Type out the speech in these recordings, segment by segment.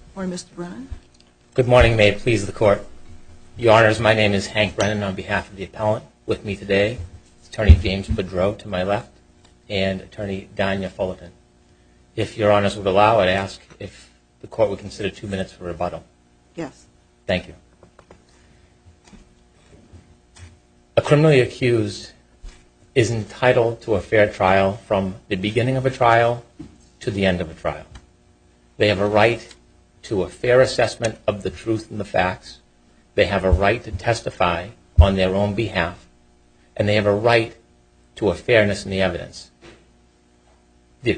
Good morning, Mr. Brennan. Good morning. May it please the Court. Your Honors, my name is Hank Brennan. On behalf of the appellant with me today is Attorney James Bedreau to my left and Attorney Dania Fullerton. If Your Honors would allow, I'd ask if the Court would A criminally accused is entitled to a fair trial from the beginning of a trial to the end of a trial. They have a right to a fair assessment of the truth and the facts. They have a right to testify on their own behalf. And they have a right to a fairness in the trial. The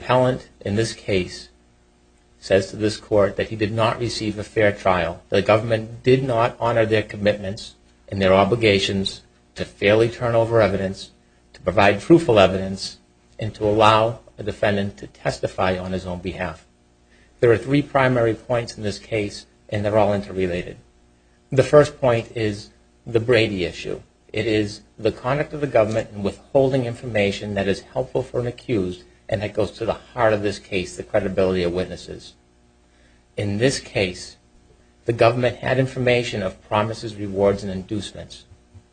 government did not honor their commitments and their obligations to fairly turn over evidence, to provide truthful evidence, and to allow a defendant to testify on his own behalf. There are three primary points in this case and they're all interrelated. The first point is the Brady issue. It is the conduct of the government in withholding information that is helpful for an accused and that goes to the heart of this case, the government had information of promises, rewards, and inducements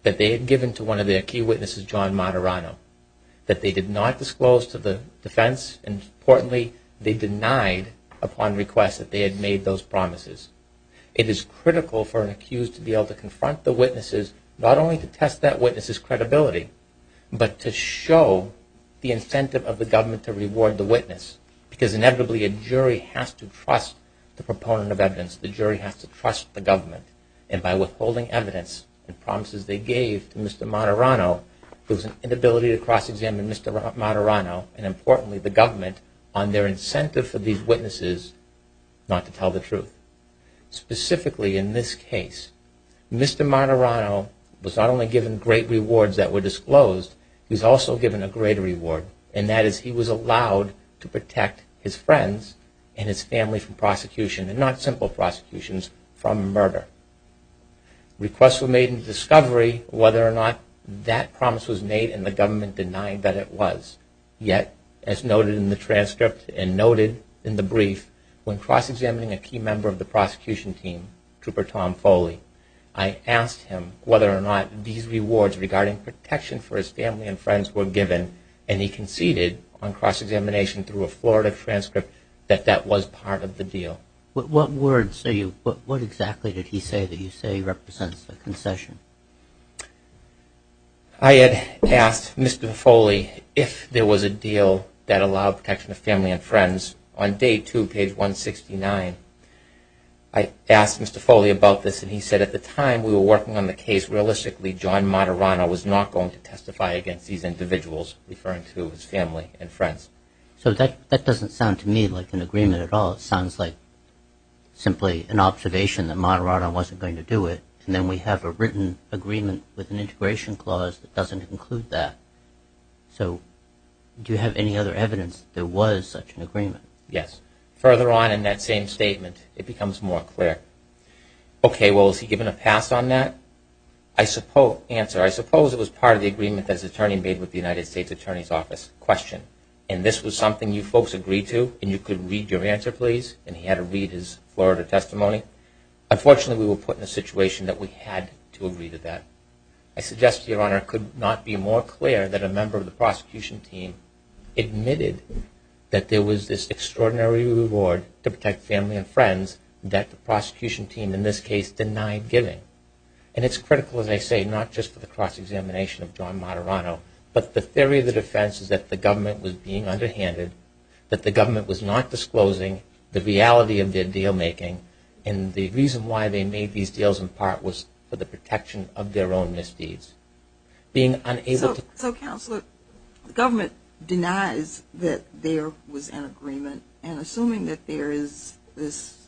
that they had given to one of their key witnesses, John Moderano, that they did not disclose to the defense and importantly they denied upon request that they had made those promises. It is critical for an accused to be able to confront the witnesses, not only to test that witness's credibility, but to show the incentive of the government to reward the witness because inevitably a jury has to trust the proponent of evidence. The jury has to trust the government. And by withholding evidence and promises they gave to Mr. Moderano, there was an inability to cross-examine Mr. Moderano and importantly the government on their incentive for these witnesses not to tell the truth. Specifically in this case, Mr. Moderano was not only given great rewards that were disclosed, he was also given a greater reward and that is he was allowed to protect his friends and his family from prosecution and not simple prosecutions from murder. Requests were made in discovery whether or not that promise was made and the government denied that it was. Yet, as noted in the transcript and noted in the brief, when cross-examining a key member of the prosecution team, Trooper Tom Foley, I asked him whether or not these rewards regarding protection for his family and friends were given and he conceded on the transcript that that was part of the deal. What words, what exactly did he say that you say represents the concession? I had asked Mr. Foley if there was a deal that allowed protection of family and friends. On day two, page 169, I asked Mr. Foley about this and he said at the time we were working on the case realistically John Moderano was not going to testify against these individuals referring to his family and friends. So that doesn't sound to me like an agreement at all. It sounds like simply an observation that Moderano wasn't going to do it and then we have a written agreement with an integration clause that doesn't include that. So do you have any other evidence that there was such an agreement? Yes. Further on in that same statement, it becomes more clear. Okay, well is he given a pass on that? Answer, I suppose it was part of the agreement that his attorney made with the United States Attorney's Office. Question, and this was something you folks agreed to and you could read your answer please and he had to read his Florida testimony. Unfortunately, we were put in a situation that we had to agree to that. I suggest to your honor it could not be more clear that a member of the prosecution team admitted that there was this extraordinary reward to protect family and friends that the prosecution team in this case denied giving. And it's critical as I say not just for the cross-examination of John Moderano, but the theory of the defense is that the government was being underhanded, that the government was not disclosing the reality of their deal making and the reason why they made these deals in part was for the protection of their own misdeeds. Being unable to. So counselor, the government denies that there was an agreement and assuming that there is this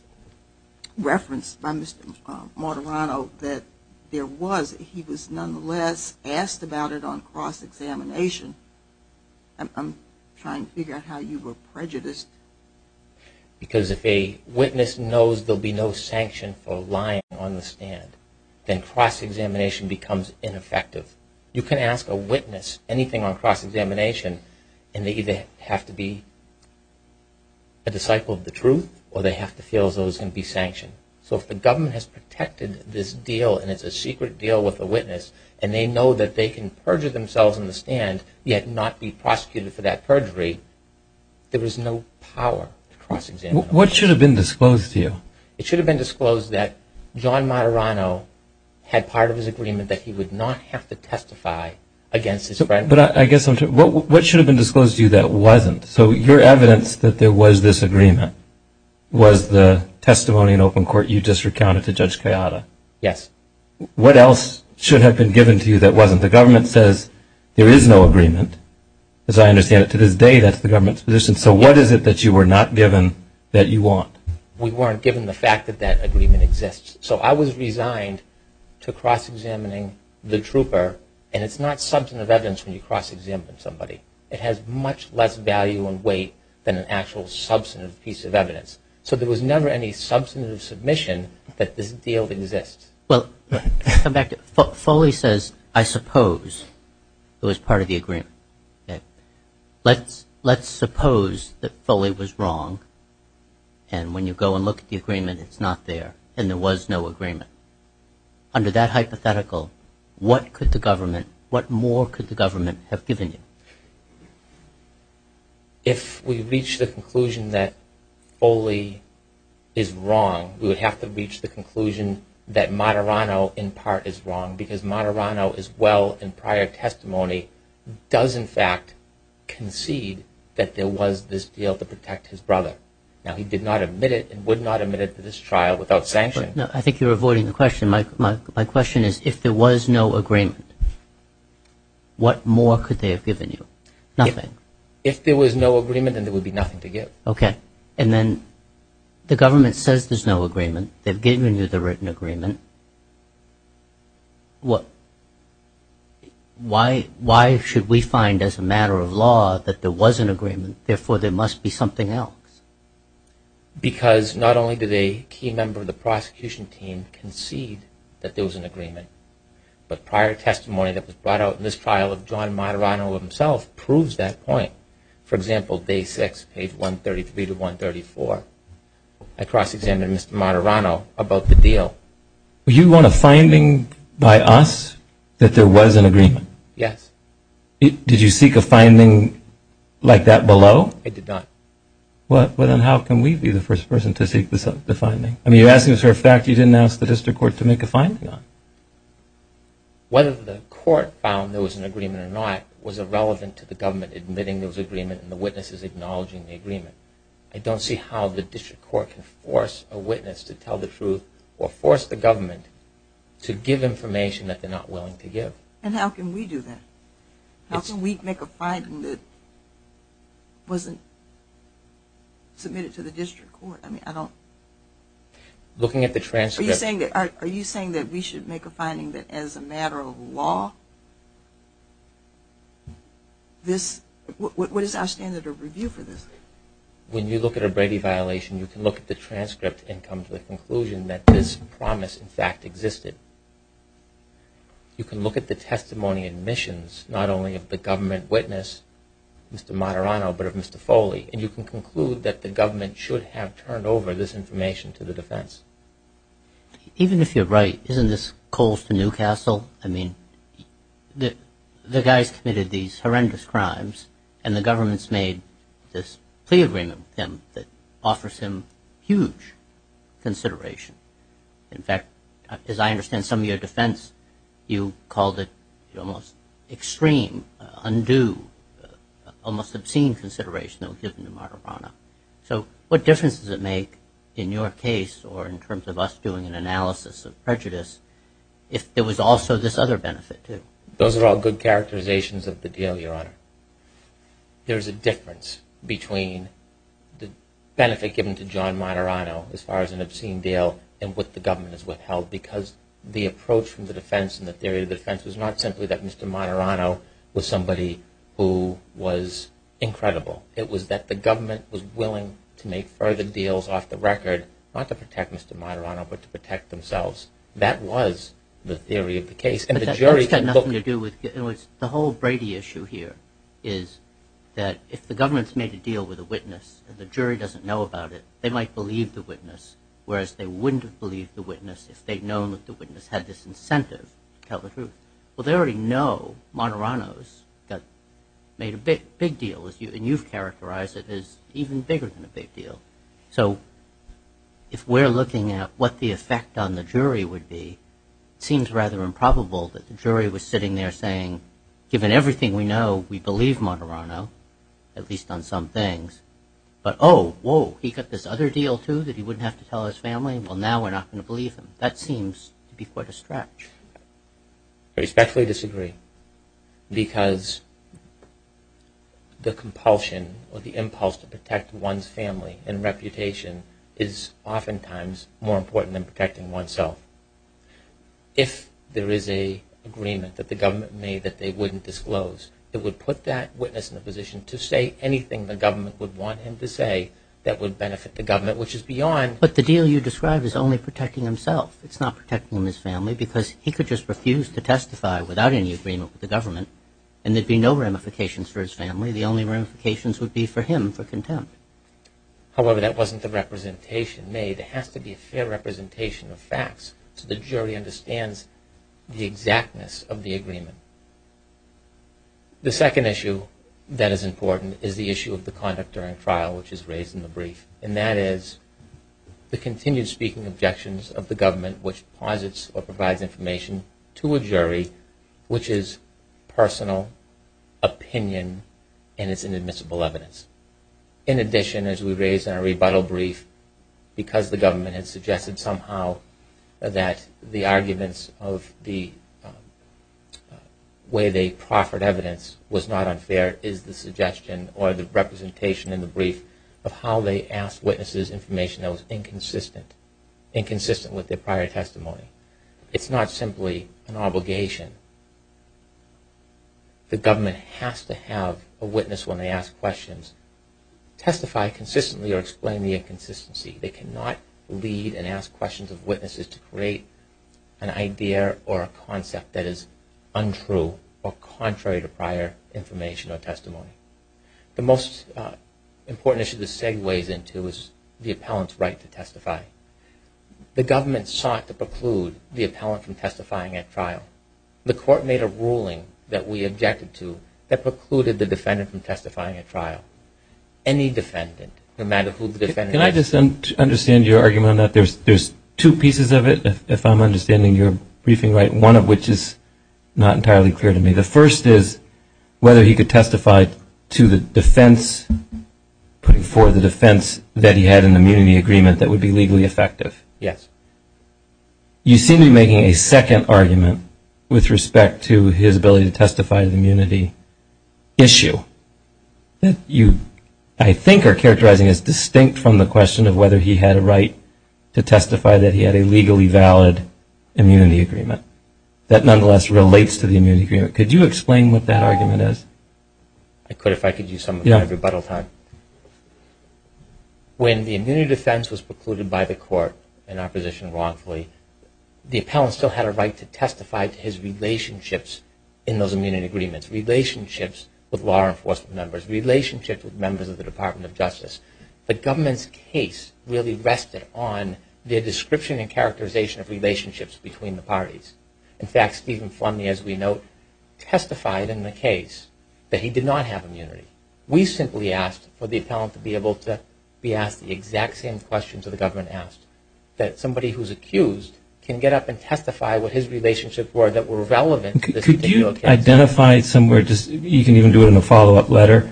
reference by Mr. Moderano that there was, he was nonetheless asked about it on cross-examination. I'm trying to figure out how you were prejudiced. Because if a witness knows there will be no sanction for lying on the stand, then cross-examination becomes ineffective. You can ask a witness anything on cross-examination and they either have to be a disciple of the truth or they have to feel as though it's going to be sanctioned. So if the government has protected this deal and it's a secret deal with a witness and they know that they can perjure themselves on the stand yet not be prosecuted for that perjury, there is no power to cross-examine. What should have been disclosed to you? It should have been disclosed that John Moderano had part of his agreement that he would not have to testify against his friend. But I guess, what should have been disclosed to you that wasn't? So your evidence that there was this agreement was the testimony in open on it to Judge Kayada. Yes. What else should have been given to you that wasn't? The government says there is no agreement. As I understand it, to this day, that's the government's position. So what is it that you were not given that you want? We weren't given the fact that that agreement exists. So I was resigned to cross-examining the trooper. And it's not substantive evidence when you cross-examine somebody. It has much less value and weight than an actual substantive piece of evidence. So there was never any substantive submission that this deal exists. Well, come back to it. Foley says, I suppose it was part of the agreement. Let's suppose that Foley was wrong. And when you go and look at the agreement, it's not there. And there was no agreement. Under that hypothetical, what could the government, what more could the government have given you? If we reach the conclusion that Foley is wrong, we would have to reach the conclusion that Moderano, in part, is wrong. Because Moderano, as well in prior testimony, does, in fact, concede that there was this deal to protect his brother. Now, he did not admit it and would not admit it to this trial without sanction. I think you're avoiding the question. My question is, if there was no agreement, what more could they have given you? Nothing. If there was no agreement, then there would be nothing to give. Okay. And then the government says there's no agreement. They've given you the written agreement. Why should we find, as a matter of law, that there was an agreement, therefore there must be something else? Because not only did a key member of the prosecution team concede that there was an agreement, but prior testimony that was brought out in this trial of John Moderano himself proves that point. For example, day six, page 133 to 134, I cross-examined Mr. Moderano about the deal. You want a finding by us that there was an agreement? Yes. Did you seek a finding like that below? I did not. Well, then how can we be the first person to seek the finding? I mean, you're asking us for a fact you didn't ask the district court to make a finding on. Whether the court found there was an agreement or not was irrelevant to the government admitting there was an agreement and the witnesses acknowledging the agreement. I don't see how the district court can force a witness to tell the truth or force the government to give information that they're not willing to give. And how can we do that? How can we make a finding that wasn't submitted to the district court? I mean, I don't... Are you saying that we should make a finding that, as a matter of law, this... What is our standard of review for this? When you look at a Brady violation, you can look at the transcript and come to the conclusion that this promise, in fact, existed. You can look at the testimony admissions, not only of the government witness, Mr. Moderano, but of Mr. Foley, and you can conclude that the defense... Even if you're right, isn't this Colston, Newcastle? I mean, the guy's committed these horrendous crimes, and the government's made this plea agreement with him that offers him huge consideration. In fact, as I understand some of your defense, you called it almost extreme, undue, almost obscene consideration that was given to Moderano. So what difference does it make in your case, or in terms of us doing an analysis of prejudice, if it was also this other benefit, too? Those are all good characterizations of the deal, Your Honor. There's a difference between the benefit given to John Moderano, as far as an obscene deal, and what the government has withheld, because the approach from the defense and the theory of the defense was not simply that Mr. Moderano was somebody who was incredible. It was that the government was willing to make further deals off the record, not to protect Mr. Moderano, but to protect themselves. That was the theory of the case, and the jury... But that's got nothing to do with... The whole Brady issue here is that if the government's made a deal with a witness, and the jury doesn't know about it, they might believe the witness, whereas they wouldn't have believed the witness if they'd known that the witness had this incentive to tell the truth. Well, they already know Moderano's made a big deal, and you've characterized it as even bigger than a big deal. So if we're looking at what the effect on the jury would be, it seems rather improbable that the jury was sitting there saying, given everything we know, we believe Moderano, at least on some things, but oh, whoa, he got this other deal, too, that he wouldn't have to tell his family? Well, now we're not going to believe him. That seems to be quite a stretch. I respectfully disagree, because the compulsion or the impulse to protect one's family and reputation is oftentimes more important than protecting oneself. If there is a agreement that the government made that they wouldn't disclose, it would put that witness in a position to say anything the government would want him to say that would benefit the government, which is beyond... But the deal you describe is only protecting himself. It's not protecting his family, because he could just refuse to testify without any agreement with the government, and there'd be no ramifications for his family. The only ramifications would be for him for contempt. However, that wasn't the representation made. It has to be a fair representation of facts so the jury understands the exactness of the agreement. The second issue that is important is the issue of the conduct during trial, which is raised in the brief, and that is the continued speaking objections of the government which posits or provides information to a jury which is personal opinion and is inadmissible evidence. In addition, as we raised in our rebuttal brief, because the government had suggested somehow that the arguments of the way they proffered evidence was not unfair, is the suggestion or the representation in the brief of how they asked witnesses information that was inconsistent, inconsistent with their prior testimony. It's not simply an obligation. The government has to have a witness when they ask questions testify consistently or explain the inconsistency. They cannot lead and ask questions of witnesses to create an idea or a concept that is untrue or contrary to prior information or testimony. The most important issue this segues into is the appellant's right to testify. The government sought to preclude the appellant from testifying at trial. The court made a ruling that we objected to that precluded the defendant from testifying at trial. Any defendant, no matter who the defendant is. Can I just understand your argument on that? There's two pieces of it, if I'm understanding your briefing right, one of which is not entirely clear to me. The first is whether he could testify to the defense, for the defense that he had an immunity agreement that would be legally effective. Yes. You seem to be making a second argument with respect to his ability to testify to the immunity issue that you, I think, are characterizing as distinct from the question of whether he had a right to testify that he had a legally valid immunity agreement that nonetheless relates to the immunity agreement. Could you explain what that argument is? I could if I could use some of my rebuttal time. When the immunity defense was precluded by the court in our position wrongfully, the appellant still had a right to testify to his relationships in those immunity agreements, relationships with law enforcement members, relationships with members of the Department of Justice. The government's case really rested on their description and characterization of relationships between the parties. In fact, Stephen Flumney, as we note, testified in the case that he did not have immunity. We simply asked for the appellant to be able to be asked the exact same questions that the government asked, that somebody who's accused can get up and testify what his relationships were that were relevant to this continual case. Can you identify somewhere, you can even do it in a follow-up letter,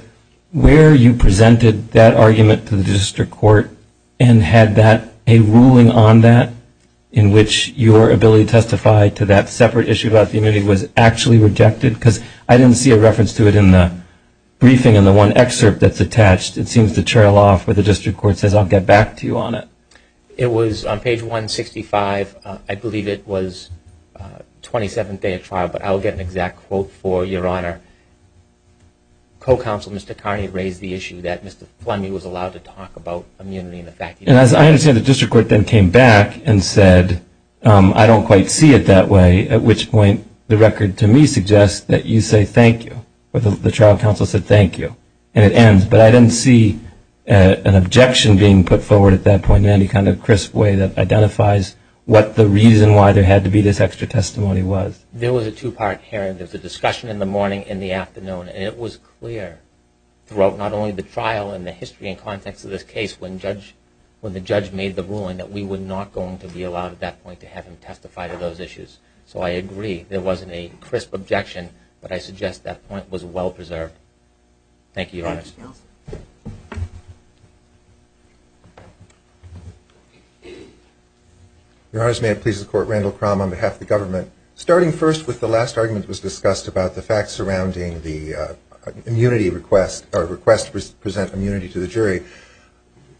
where you presented that argument to the district court and had a ruling on that in which your ability to testify to that separate issue about the immunity was actually rejected? Because I didn't see a reference to it in the briefing in the one excerpt that's attached. It seems to trail off where the district court says, I'll get back to you on it. It was on page 165. I believe it was 27th day of trial. But I'll get an exact quote for your honor. Co-counsel Mr. Carney raised the issue that Mr. Flumney was allowed to talk about immunity and the fact that he didn't have immunity. And as I understand, the district court then came back and said, I don't quite see it that way, at which point the record to me suggests that you say thank you. The trial counsel said thank you. And it ends. But I didn't see an objection being put forward at that point in any kind of crisp way that identifies what the reason why there had to be this extra testimony was. There was a two-part here. There was a discussion in the morning and the afternoon. And it was clear throughout not only the trial and the history and context of this case when the judge made the ruling that we were not going to be allowed at that point to have him testify to those issues. So I agree. There wasn't a crisp objection. But I suggest that point was well-preserved. Thank you, your honor. Your honor, may it please the court, Randall Crum on behalf of the government. Starting first with the last argument that was discussed about the facts surrounding the request to present immunity to the jury.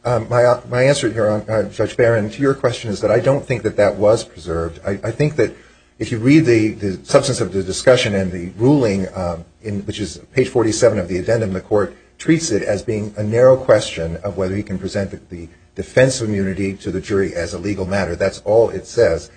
My answer here, Judge Barron, to your question is that I don't think that that was preserved. I think that if you read the substance of the discussion and the ruling, which is page 47 of the addendum, the court treats it as being a narrow question of whether he can present the defense of immunity to the jury as a legal matter. That's all it says.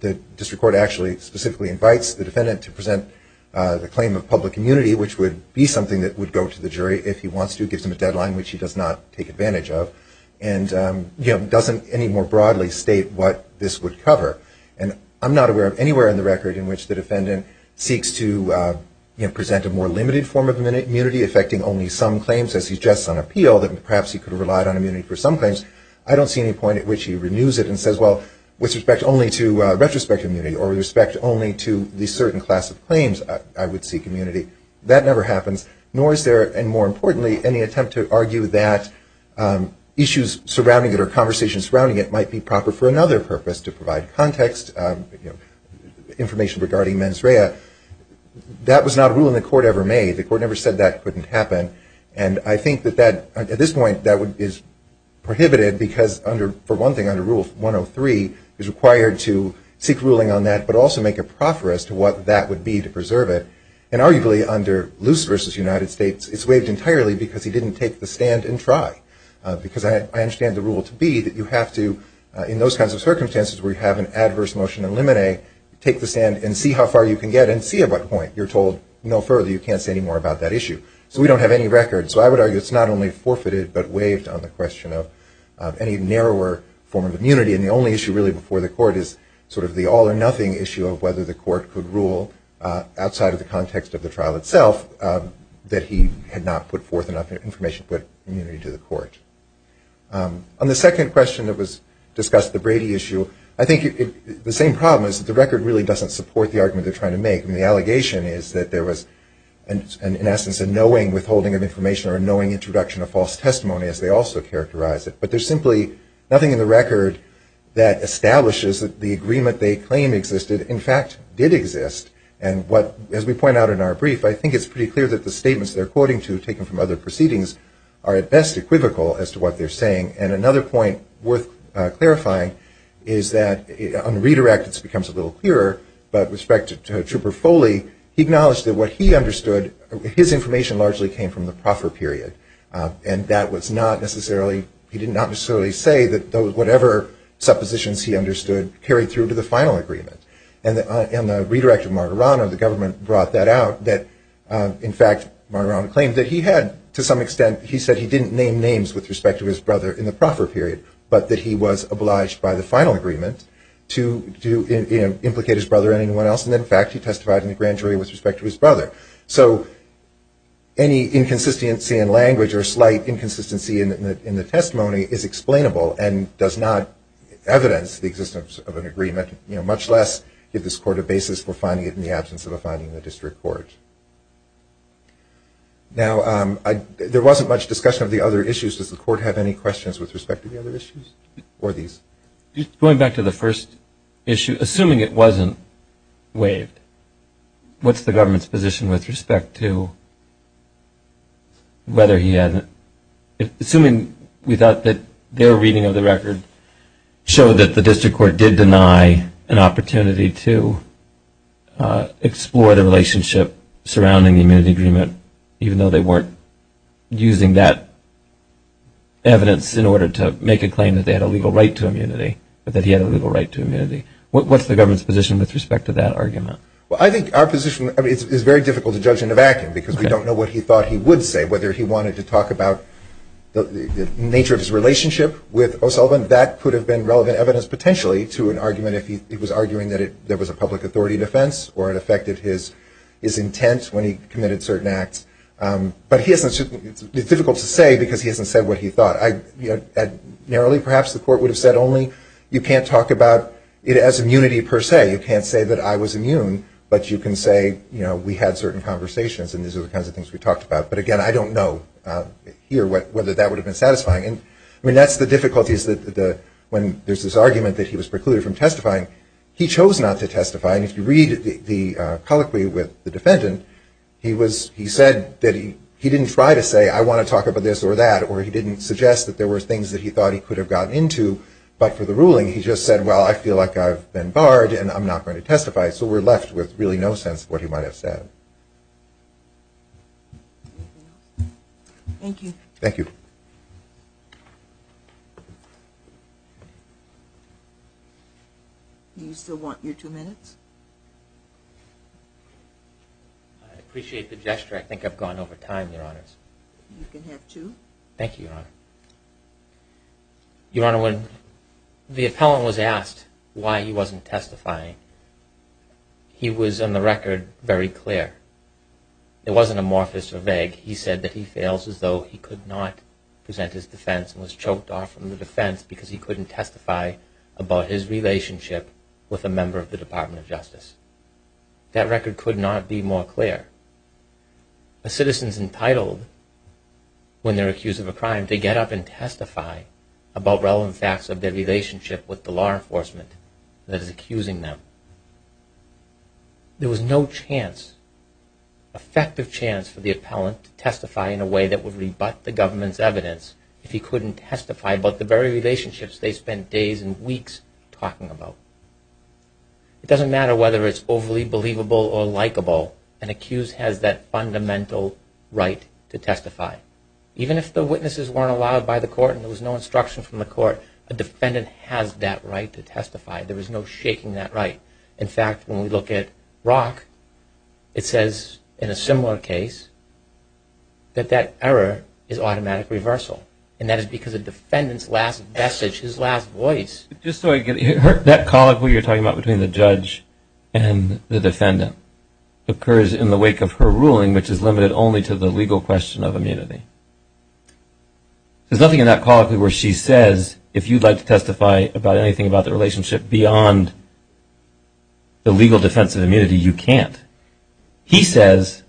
The district court actually specifically invites the defendant to present the claim of public immunity, which would be something that would go to the jury if he wants to, gives him a deadline, which he does not take advantage of, and doesn't any more broadly state what this would cover. I'm not aware of anywhere in the record in which the defendant seeks to present a more limited form of immunity, effecting only some claims, as he suggests on appeal, that perhaps he could have relied on immunity for some claims. I don't see any point at which he renews it and says, well, with respect only to retrospective immunity, or with respect only to the certain class of claims, I would seek immunity. That never happens, nor is there, and more importantly, any attempt to argue that issues surrounding it or conversations surrounding it might be proper for another purpose, to provide context, information regarding mens rea. That was not a rule in the court ever made. The court never said that couldn't happen, and I think that at this point, that is prohibited, because for one thing, under Rule 103, is required to seek ruling on that, but also make a proffer as to what that would be to preserve it. And arguably, under Luce v. United States, it's waived entirely because he didn't take the stand and try, because I understand the rule to be that you have to, in those kinds of circumstances where you have an adverse motion in limine, take the stand and see how far you can get, and see at what point you're told no further, you can't say any more about that issue. So we don't have any record. So I would argue it's not only forfeited, but waived on the question of any narrower form of immunity, and the only issue really before the court is sort of the all or nothing issue of whether the court could rule, outside of the context of the trial itself, that he had not put forth enough information to put immunity to the court. On the second question that was discussed, the Brady issue, I think the same problem is that the record really doesn't support the argument they're trying to make. I mean, the allegation is that there was, in essence, a knowing withholding of information or a knowing introduction of false testimony, as they also characterize it. But there's simply nothing in the record that establishes that the agreement they claim existed, in fact, did exist. And what, as we point out in our brief, I think it's pretty clear that the And another point worth clarifying is that on the redirect, it becomes a little clearer, but with respect to Trooper Foley, he acknowledged that what he understood, his information largely came from the proffer period. And that was not necessarily, he did not necessarily say that whatever suppositions he understood carried through to the final agreement. And on the redirect of Margarano, the government brought that out, that, in fact, Margarano claimed that he had, to some extent, he said he didn't name names with respect to his brother in the proffer period, but that he was obliged by the final agreement to implicate his brother in anyone else. And, in fact, he testified in the grand jury with respect to his brother. So any inconsistency in language or slight inconsistency in the testimony is explainable and does not evidence the existence of an agreement, much less give this court a basis for finding it in the absence of a finding in the district court. Now there wasn't much discussion of the other issues. Does the court have any questions with respect to the other issues or these? Going back to the first issue, assuming it wasn't waived, what's the government's position with respect to whether he had, assuming we thought that their reading of the record showed that the district court did deny an opportunity to explore the relationship surrounding the immunity agreement, even though they weren't using that evidence in order to make a claim that they had a legal right to immunity, but that he had a legal right to immunity? What's the government's position with respect to that argument? Well, I think our position is very difficult to judge in a vacuum because we don't know what he thought he would say, whether he wanted to talk about the nature of his relationship with O'Sullivan. That could have been relevant evidence potentially to an argument if he was arguing that there was a public authority defense or it affected his intent when he committed certain acts. But it's difficult to say because he hasn't said what he thought. Narrowly perhaps the court would have said only, you can't talk about it as immunity per se. You can't say that I was immune, but you can say we had certain conversations and these are the kinds of things we talked about. But again, I don't know here whether that would have been satisfying. I mean, that's the difficulties when there's this argument that he was precluded from testifying. He chose not to testify. And if you read the colloquy with the defendant, he said that he didn't try to say, I want to talk about this or that, or he didn't suggest that there were things that he thought he could have gotten into. But for the ruling, he just said, well, I feel like I've been barred and I'm not going to testify. So we're left with really no sense of what he might have said. Thank you. Thank you. Do you still want your two minutes? I appreciate the gesture. I think I've gone over time, Your Honors. You can have two. Thank you, Your Honor. Your Honor, when the appellant was asked why he wasn't testifying, he was, on the record, very clear. It wasn't amorphous or vague. He said that he fails as though he could not present his defense and was choked off from the defense because he couldn't testify about his relationship with a member of the Department of Justice. That record could not be more clear. A citizen's entitled, when they're accused of a crime, to get up and testify about relevant facts of their relationship with the law enforcement department that is accusing them. There was no chance, effective chance, for the appellant to testify in a way that would rebut the government's evidence if he couldn't testify about the very relationships they spent days and weeks talking about. It doesn't matter whether it's overly believable or likable. An accused has that fundamental right to testify. Even if the witnesses weren't allowed by the court and there was no instruction from the court, a defendant has that right to testify. There was no shaking that right. In fact, when we look at Rock, it says, in a similar case, that that error is automatic reversal. And that is because a defendant's last message, his last voice... Just so I get it, that colloquy you're talking about between the judge and the defendant occurs in the wake of her ruling, which is limited only to the legal question of immunity. There's nothing in that colloquy where she says, if you'd like to testify about anything about the relationship beyond the legal defense of immunity, you can't. He says,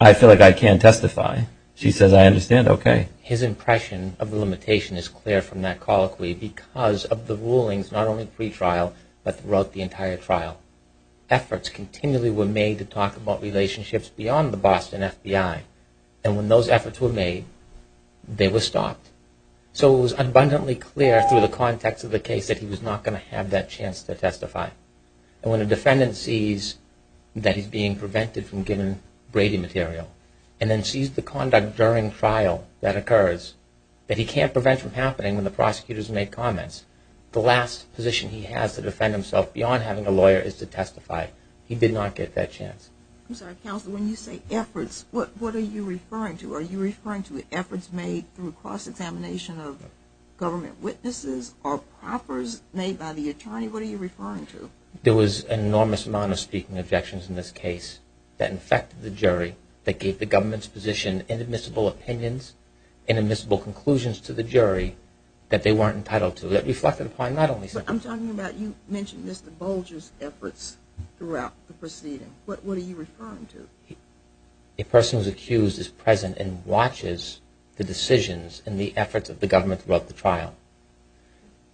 I feel like I can testify. She says, I understand. Okay. His impression of the limitation is clear from that colloquy because of the rulings, not only pre-trial, but throughout the entire trial. Efforts continually were made to talk about relationships beyond the Boston FBI. And when those efforts were made, they were stopped. So it was abundantly clear through the context of the case that he was not going to have that chance to testify. And when a defendant sees that he's being prevented from giving Brady material and then sees the conduct during trial that occurs, that he can't prevent from happening when the prosecutor's made comments, the last position he has to defend himself beyond having a lawyer is to testify. He did not get that chance. I'm sorry, Counselor, when you say efforts, what are you referring to? Are you referring to efforts made through cross-examination of government witnesses or proffers made by the attorney? What are you referring to? There was an enormous amount of speaking objections in this case that infected the jury, that gave the government's position inadmissible opinions, inadmissible conclusions to the jury that they weren't entitled to, that reflected upon not only – I'm talking about – you mentioned Mr. Bolger's efforts throughout the proceeding. What are you referring to? A person who's accused is present and watches the decisions and the efforts of the government throughout the trial,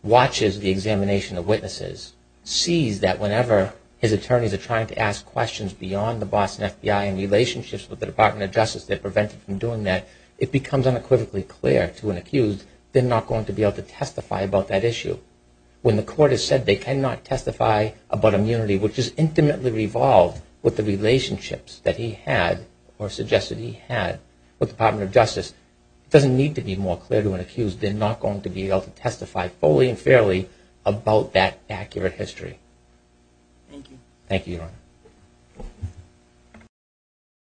watches the examination of witnesses, sees that whenever his attorneys are trying to ask questions beyond the Boston FBI and relationships with the Department of Justice that prevent him from doing that, it becomes unequivocally clear to an accused they're not going to be able to testify about that issue. When the court has said they cannot testify about immunity, which is intimately revolved with the relationships that he had or suggested he had with the Department of Justice, it doesn't need to be more clear to an accused they're not going to be able to testify fully and fairly about that accurate history. Thank you. Thank you, Your Honor.